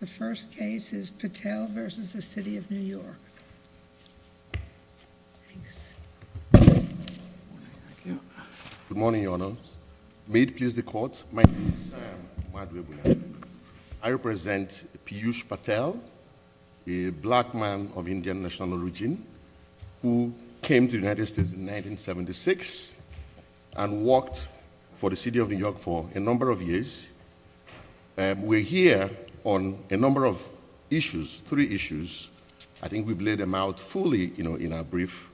The first case is Patel v. The City of New York. Good morning, Your Honor. May it please the Court, my name is Madwe Buyan. I represent Piyush Patel, a black man of Indian national origin, who came to the United States in 1976 and worked for the City of New York for a number of years. We're here on a number of issues, three issues. I think we've laid them out fully in our brief.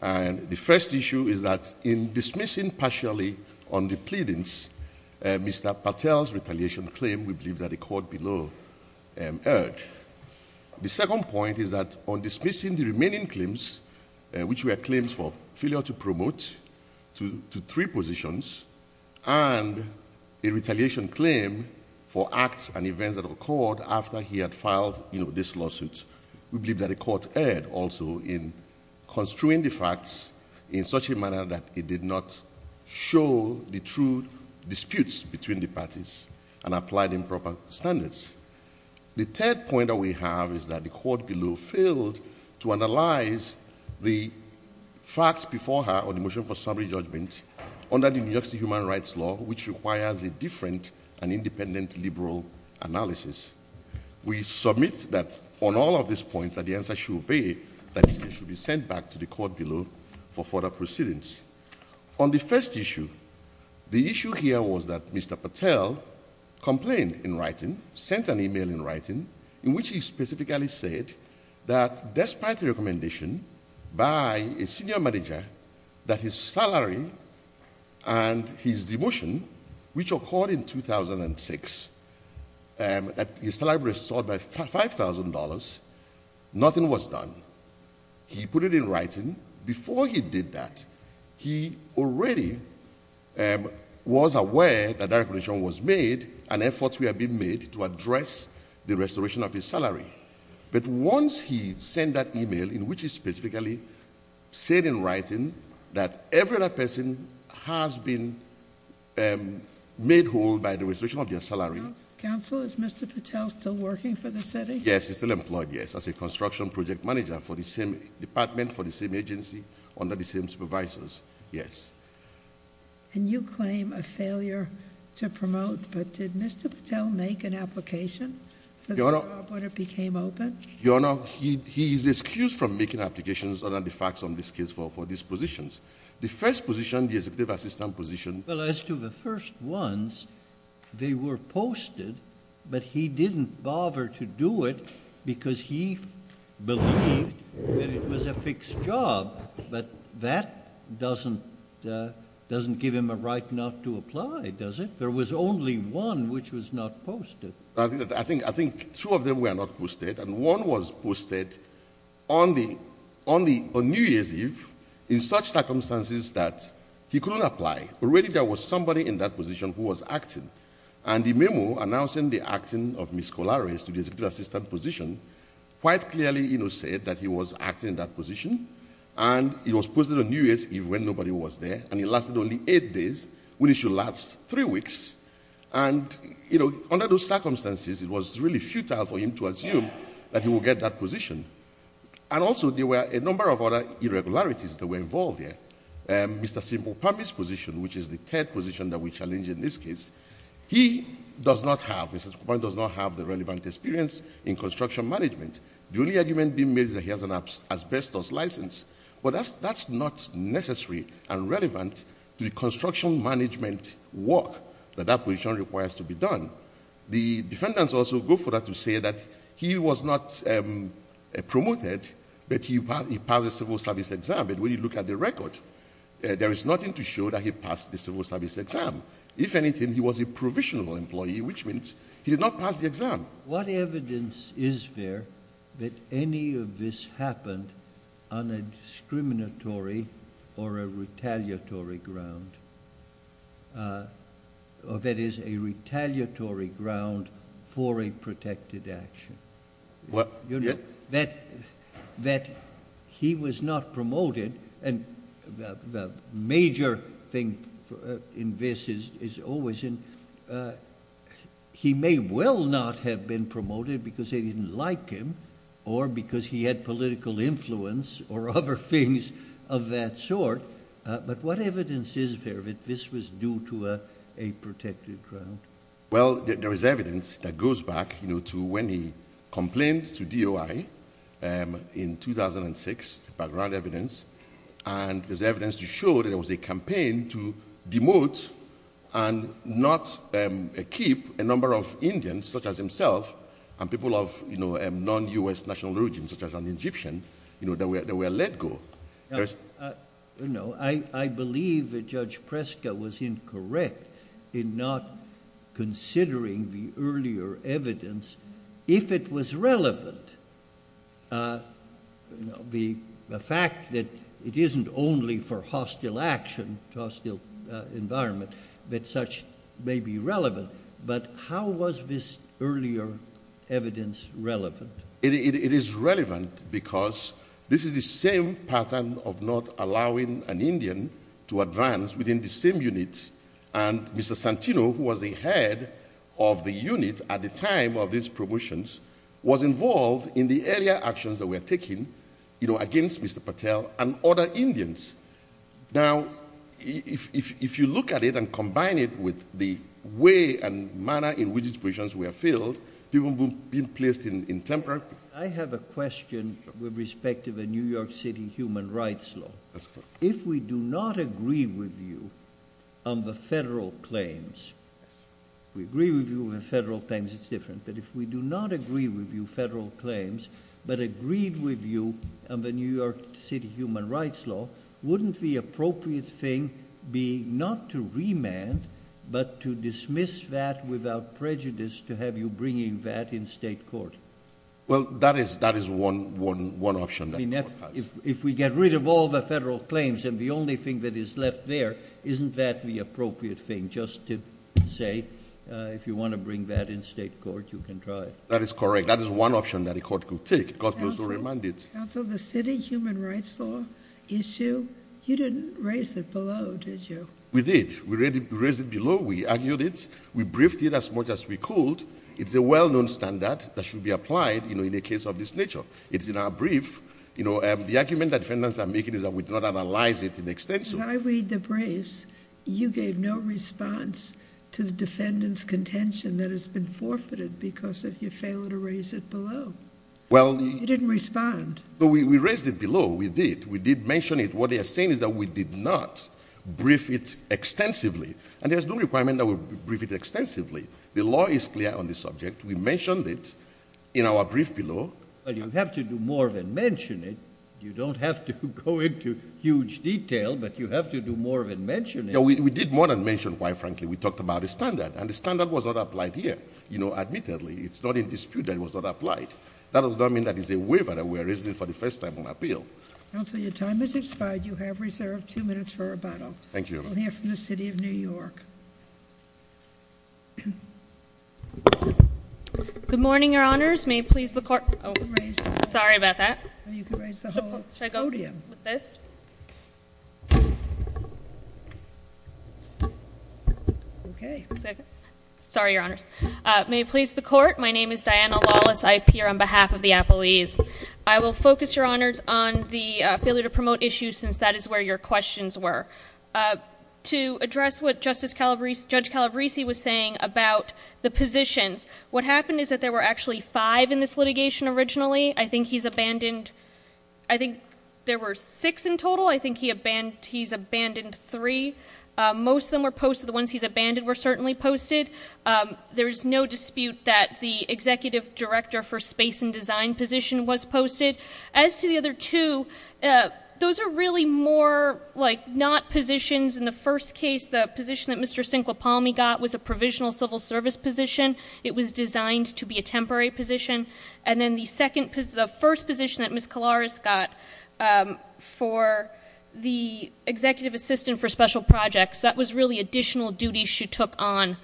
The first issue is that in dismissing partially on the pleadings, Mr. Patel's retaliation claim, we believe, that the Court below heard. The second point is that on dismissing the remaining claims, which were claims for failure to promote to three positions, and a retaliation claim for acts and events that occurred after he had filed this lawsuit, we believe that the Court heard also in construing the facts in such a manner that it did not show the true disputes between the parties and applied improper standards. The third point that we have is that the Court below failed to analyze the facts before her on the motion for summary judgment under the New York City Human Rights Law, which requires a different and independent liberal analysis. We submit that on all of these points that the answer should be that it should be sent back to the Court below for further proceedings. On the first issue, the issue here was that Mr. Patel complained in writing, sent an email in writing, in which he specifically said that, despite the recommendation by a senior manager that his salary and his demotion, which occurred in 2006, that his salary be restored by $5,000, nothing was done. He put it in writing. Before he did that, he already was aware that that recommendation was made and efforts were being made to address the restoration of his salary. But once he sent that email, in which he specifically said in writing that every other person has been made whole by the restoration of their salary— Counsel, is Mr. Patel still working for the city? Yes, he's still employed, yes, as a construction project manager for the same department, for the same agency, under the same supervisors, yes. And you claim a failure to promote, but did Mr. Patel make an application for the job when it became open? Your Honor, he is excused from making applications under the facts on this case for these positions. The first position, the executive assistant position— Well, as to the first ones, they were posted, but he didn't bother to do it because he believed that it was a fixed job. But that doesn't give him a right not to apply, does it? There was only one which was not posted. I think two of them were not posted, and one was posted on New Year's Eve in such circumstances that he couldn't apply. Already there was somebody in that position who was acting, and the memo announcing the acting of Ms. Kolaris to the executive assistant position quite clearly said that he was acting in that position, and it was posted on New Year's Eve when nobody was there, and it lasted only eight days, when it should last three weeks. And, you know, under those circumstances, it was really futile for him to assume that he would get that position. And also there were a number of other irregularities that were involved here. Mr. Simpopami's position, which is the third position that we challenge in this case, he does not have—Mr. Simpopami does not have the relevant experience in construction management. The only argument being made is that he has an asbestos license, but that's not necessary and relevant to the construction management work that that position requires to be done. The defendants also go further to say that he was not promoted, but he passed the civil service exam, but when you look at the record, there is nothing to show that he passed the civil service exam. If anything, he was a provisional employee, which means he did not pass the exam. What evidence is there that any of this happened on a discriminatory or a retaliatory ground, or that is, a retaliatory ground for a protected action? You know, that he was not promoted, and the major thing in this is always in— that he had been promoted because they didn't like him or because he had political influence or other things of that sort, but what evidence is there that this was due to a protected ground? Well, there is evidence that goes back, you know, to when he complained to DOI in 2006, the background evidence, and there's evidence to show that it was a campaign to demote and not keep a number of Indians, such as himself, and people of, you know, non-U.S. national origin, such as an Egyptian, you know, that were let go. You know, I believe that Judge Preska was incorrect in not considering the earlier evidence. If it was relevant, you know, the fact that it isn't only for hostile action, hostile environment, that such may be relevant, but how was this earlier evidence relevant? It is relevant because this is the same pattern of not allowing an Indian to advance within the same unit, and Mr. Santino, who was the head of the unit at the time of these promotions, was involved in the earlier actions that were taken, you know, against Mr. Patel and other Indians. Now, if you look at it and combine it with the way and manner in which these positions were filled, people would be placed in temporary— I have a question with respect to the New York City human rights law. If we do not agree with you on the federal claims—we agree with you on the federal claims, it's different— but if we do not agree with you on federal claims, but agreed with you on the New York City human rights law, wouldn't the appropriate thing be not to remand, but to dismiss that without prejudice, to have you bringing that in state court? Well, that is one option. I mean, if we get rid of all the federal claims and the only thing that is left there, isn't that the appropriate thing, just to say, if you want to bring that in state court, you can try? That is correct. That is one option that a court could take. A court could also remand it. Counsel, the city human rights law issue, you didn't raise it below, did you? We did. We raised it below. We argued it. We briefed it as much as we could. It's a well-known standard that should be applied, you know, in a case of this nature. It's in our brief. You know, the argument that defendants are making is that we did not analyze it in extension. As I read the briefs, you gave no response to the defendant's contention that has been forfeited because of your failure to raise it below. Well— You didn't respond. No, we raised it below. We did. We did mention it. What they are saying is that we did not brief it extensively. And there is no requirement that we brief it extensively. The law is clear on the subject. We mentioned it in our brief below. Well, you have to do more than mention it. You don't have to go into huge detail, but you have to do more than mention it. Yeah, we did more than mention it quite frankly. We talked about the standard, and the standard was not applied here. You know, admittedly, it's not in dispute that it was not applied. That does not mean that it is a waiver that we are raising for the first time on appeal. Counsel, your time has expired. You have reserved two minutes for rebuttal. Thank you. We'll hear from the City of New York. Good morning, Your Honors. May it please the Court— Oh, sorry about that. You can raise the whole podium. Should I go with this? Okay. Sorry, Your Honors. May it please the Court, my name is Diana Lawless. I appear on behalf of the appellees. I will focus, Your Honors, on the failure to promote issues since that is where your questions were. To address what Judge Calabrese was saying about the positions, what happened is that there were actually five in this litigation originally. I think he's abandoned—I think there were six in total. I think he's abandoned three. Most of them were posted. The ones he's abandoned were certainly posted. There is no dispute that the executive director for space and design position was posted. As to the other two, those are really more like not positions. In the first case, the position that Mr. Cinque Palmi got was a provisional civil service position. It was designed to be a temporary position. And then the first position that Ms. Calabrese got for the executive assistant for special projects, that was really additional duties she took on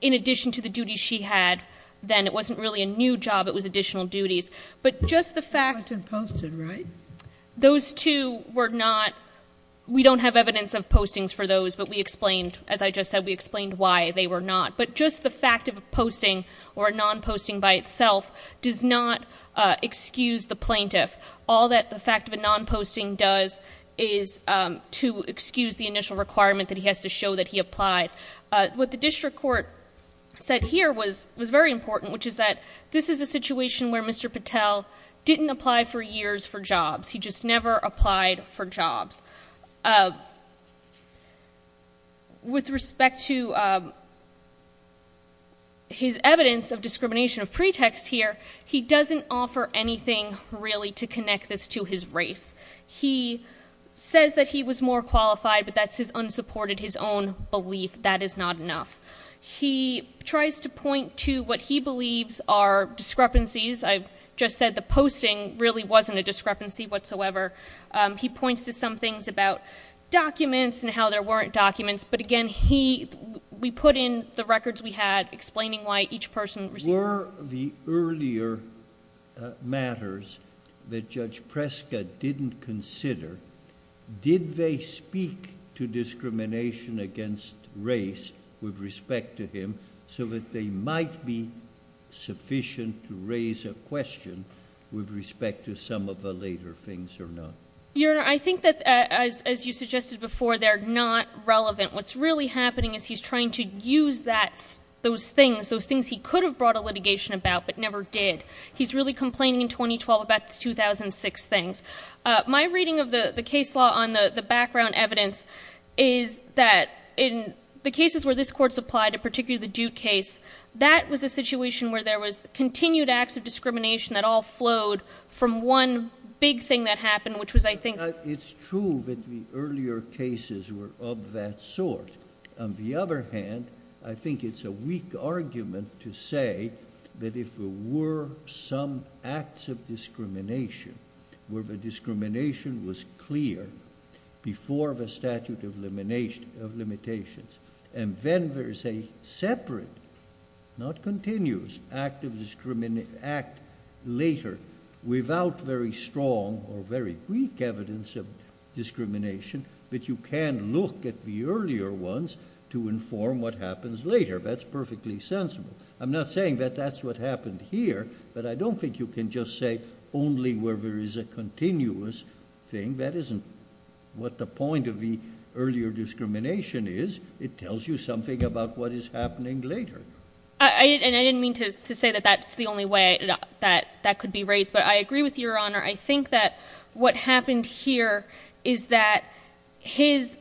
in addition to the duties she had then. It wasn't really a new job. It was additional duties. But just the fact— It wasn't posted, right? Those two were not—we don't have evidence of postings for those, but we explained. As I just said, we explained why they were not. But just the fact of a posting or a non-posting by itself does not excuse the plaintiff. All that the fact of a non-posting does is to excuse the initial requirement that he has to show that he applied. What the district court said here was very important, which is that this is a situation where Mr. Patel didn't apply for years for jobs. He just never applied for jobs. With respect to his evidence of discrimination of pretext here, he doesn't offer anything really to connect this to his race. He says that he was more qualified, but that's his unsupported, his own belief. That is not enough. He tries to point to what he believes are discrepancies. I just said the posting really wasn't a discrepancy whatsoever. He points to some things about documents and how there weren't documents. But, again, we put in the records we had explaining why each person received— Before the earlier matters that Judge Preska didn't consider, did they speak to discrimination against race with respect to him so that they might be sufficient to raise a question with respect to some of the later things or not? Your Honor, I think that, as you suggested before, they're not relevant. What's really happening is he's trying to use those things, those things he could have brought a litigation about but never did. He's really complaining in 2012 about the 2006 things. My reading of the case law on the background evidence is that in the cases where this Court supplied, particularly the Duke case, that was a situation where there was continued acts of discrimination that all flowed from one big thing that happened, which was, I think— It's true that the earlier cases were of that sort. On the other hand, I think it's a weak argument to say that if there were some acts of discrimination where the discrimination was clear before the statute of limitations and then there's a separate, not continuous, act of discrimination later without very strong or very weak evidence of discrimination that you can look at the earlier ones to inform what happens later. That's perfectly sensible. I'm not saying that that's what happened here, but I don't think you can just say only where there is a continuous thing. That isn't what the point of the earlier discrimination is. It tells you something about what is happening later. I didn't mean to say that that's the only way that that could be raised, but I agree with Your Honor. I think that what happened here is that his—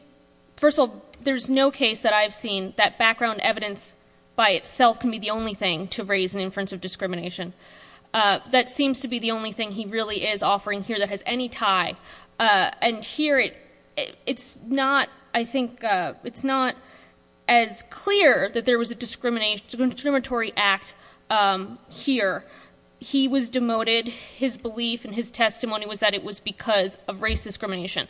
First of all, there's no case that I've seen that background evidence by itself can be the only thing to raise an inference of discrimination. That seems to be the only thing he really is offering here that has any tie. Here, it's not as clear that there was a discriminatory act here. He was demoted. His belief and his testimony was that it was because of race discrimination.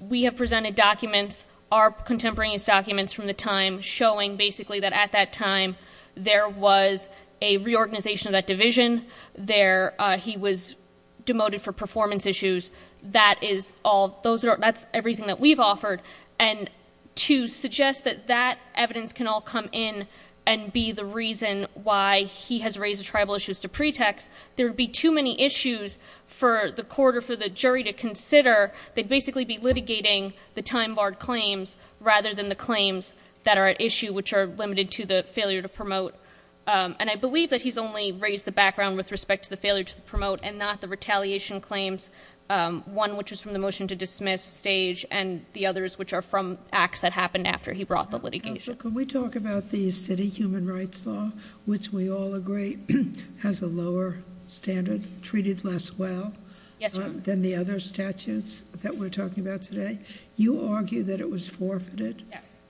We have presented documents, our contemporaneous documents from the time, showing basically that at that time there was a reorganization of that division. He was demoted for performance issues. That's everything that we've offered, and to suggest that that evidence can all come in and be the reason why he has raised the tribal issues to pretext, there would be too many issues for the court or for the jury to consider. They'd basically be litigating the time-barred claims rather than the claims that are at issue, which are limited to the failure to promote. I believe that he's only raised the background with respect to the failure to promote and not the retaliation claims, one which is from the motion to dismiss stage and the others which are from acts that happened after he brought the litigation. Can we talk about the city human rights law, which we all agree has a lower standard, treated less well than the other statutes that we're talking about today? You argue that it was forfeited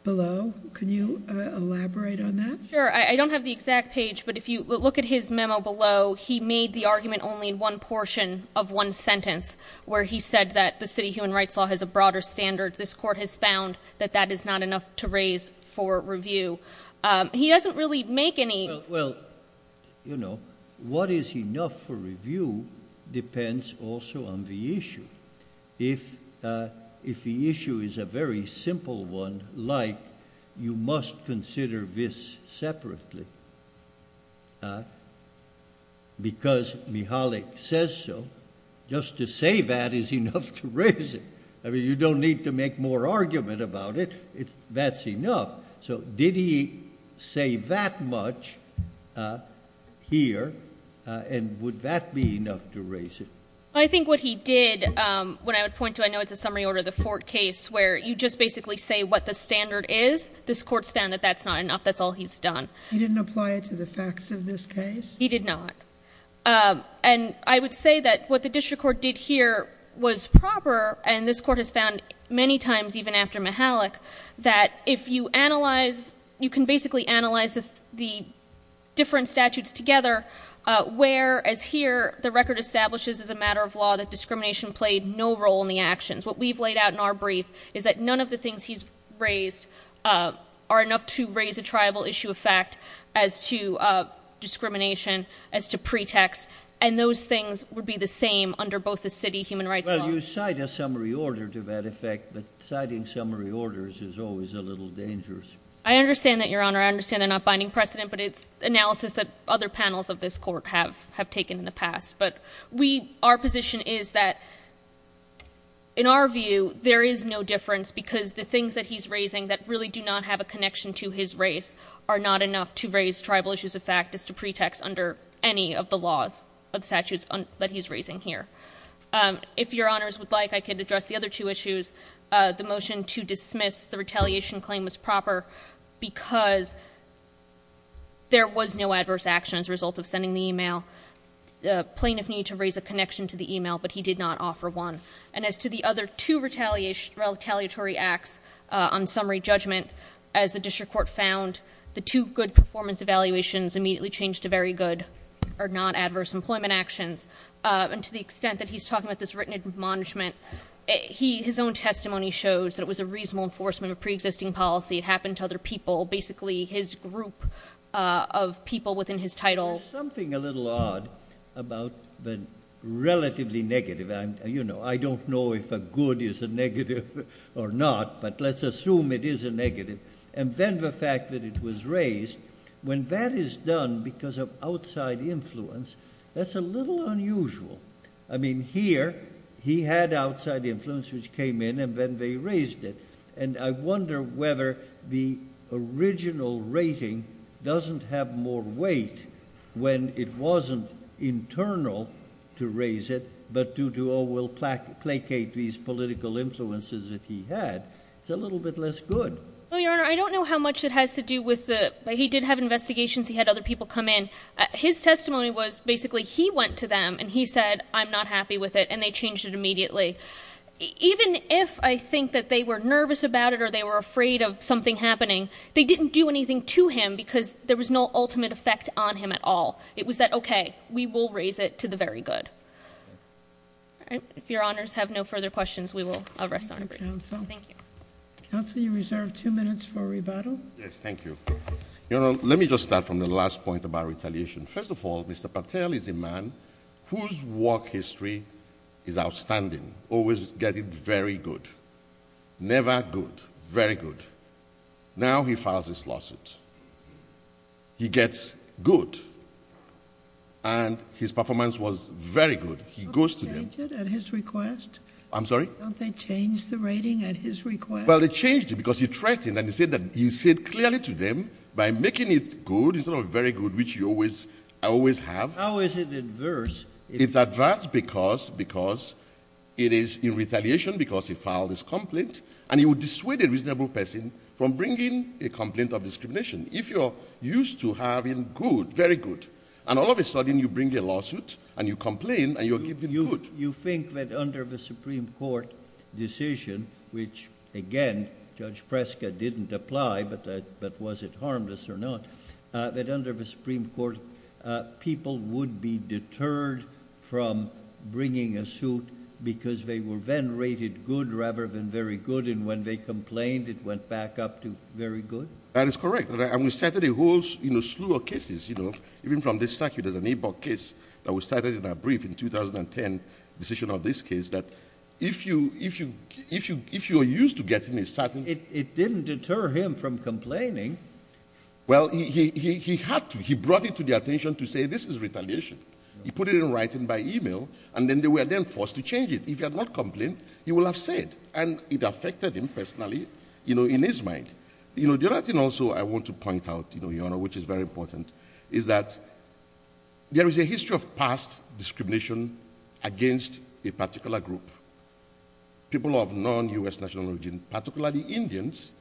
below. Can you elaborate on that? Sure. I don't have the exact page, but if you look at his memo below, he made the argument only in one portion of one sentence where he said that the city human rights law has a broader standard. This court has found that that is not enough to raise for review. He doesn't really make any— Well, you know, what is enough for review depends also on the issue. If the issue is a very simple one, like you must consider this separately because Mihalik says so, just to say that is enough to raise it. I mean, you don't need to make more argument about it. That's enough. So did he say that much here and would that be enough to raise it? I think what he did, what I would point to, I know it's a summary order of the Fort case where you just basically say what the standard is. This court's found that that's not enough. That's all he's done. He didn't apply it to the facts of this case? He did not. And I would say that what the district court did here was proper, and this court has found many times, even after Mihalik, that if you analyze, you can basically analyze the different statutes together where, as here, the record establishes as a matter of law that discrimination played no role in the actions. What we've laid out in our brief is that none of the things he's raised are enough to raise a tribal issue of fact as to discrimination, as to pretext, and those things would be the same under both the city human rights law. Well, you cite a summary order to that effect, but citing summary orders is always a little dangerous. I understand that, Your Honor. I understand they're not binding precedent, but it's analysis that other panels of this court have taken in the past. But our position is that, in our view, there is no difference because the things that he's raising that really do not have a connection to his race are not enough to raise tribal issues of fact as to pretext under any of the laws of statutes that he's raising here. If Your Honors would like, I could address the other two issues, the motion to dismiss the retaliation claim was proper because there was no adverse action as a result of sending the email. The plaintiff needed to raise a connection to the email, but he did not offer one. And as to the other two retaliatory acts on summary judgment, as the district court found, the two good performance evaluations immediately changed to very good or non-adverse employment actions. And to the extent that he's talking about this written admonishment, his own testimony shows that it was a reasonable enforcement of preexisting policy. It happened to other people, basically his group of people within his title. There's something a little odd about the relatively negative. I don't know if a good is a negative or not, but let's assume it is a negative. And then the fact that it was raised, when that is done because of outside influence, that's a little unusual. I mean, here he had outside influence, which came in, and then they raised it. And I wonder whether the original rating doesn't have more weight when it wasn't internal to raise it, but due to, oh, we'll placate these political influences that he had. It's a little bit less good. Well, Your Honor, I don't know how much it has to do with the he did have investigations, he had other people come in. His testimony was basically he went to them and he said, I'm not happy with it, and they changed it immediately. Even if I think that they were nervous about it or they were afraid of something happening, they didn't do anything to him because there was no ultimate effect on him at all. It was that, okay, we will raise it to the very good. If Your Honors have no further questions, we will rest on our break. Thank you, Counsel. Counsel, you reserve two minutes for rebuttal. Yes, thank you. Your Honor, let me just start from the last point about retaliation. First of all, Mr. Patel is a man whose work history is outstanding, always get it very good, never good, very good. Now he files this lawsuit. He gets good, and his performance was very good. He goes to them. Don't they change it at his request? I'm sorry? Don't they change the rating at his request? Well, they changed it because he threatened, and he said clearly to them by making it good, instead of very good, which I always have. How is it adverse? It's adverse because it is in retaliation because he filed this complaint, and he would dissuade a reasonable person from bringing a complaint of discrimination. If you're used to having good, very good, and all of a sudden you bring a lawsuit, and you complain, and you give them good. You think that under the Supreme Court decision, which, again, Judge Prescott didn't apply, but was it harmless or not, that under the Supreme Court, people would be deterred from bringing a suit because they were then rated good rather than very good, and when they complained, it went back up to very good? That is correct. And we started a whole slew of cases. Even from this statute, there's an eight-block case that was cited in our brief in 2010, the decision of this case, that if you're used to getting a certain— It didn't deter him from complaining. Well, he had to. He brought it to the attention to say this is retaliation. He put it in writing by email, and then they were then forced to change it. If he had not complained, he would have said, and it affected him personally in his mind. The other thing also I want to point out, Your Honor, which is very important, is that there is a history of past discrimination against a particular group, people of non-U.S. national origin, particularly Indians,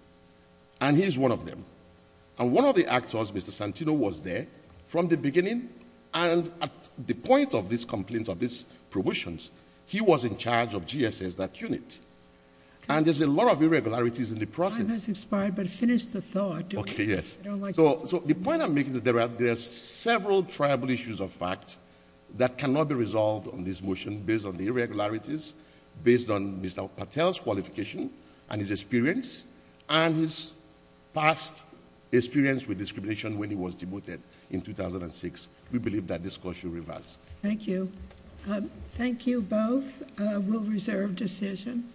and he's one of them. And one of the actors, Mr. Santino, was there from the beginning, and at the point of these complaints, of these promotions, he was in charge of GSS, that unit. And there's a lot of irregularities in the process. Time has expired, but finish the thought. Okay, yes. So the point I'm making is there are several tribal issues of fact that cannot be resolved on this motion based on the irregularities, based on Mr. Patel's qualification and his experience, and his past experience with discrimination when he was demoted in 2006. We believe that this court should reverse. Thank you. Thank you both. We'll reserve decision.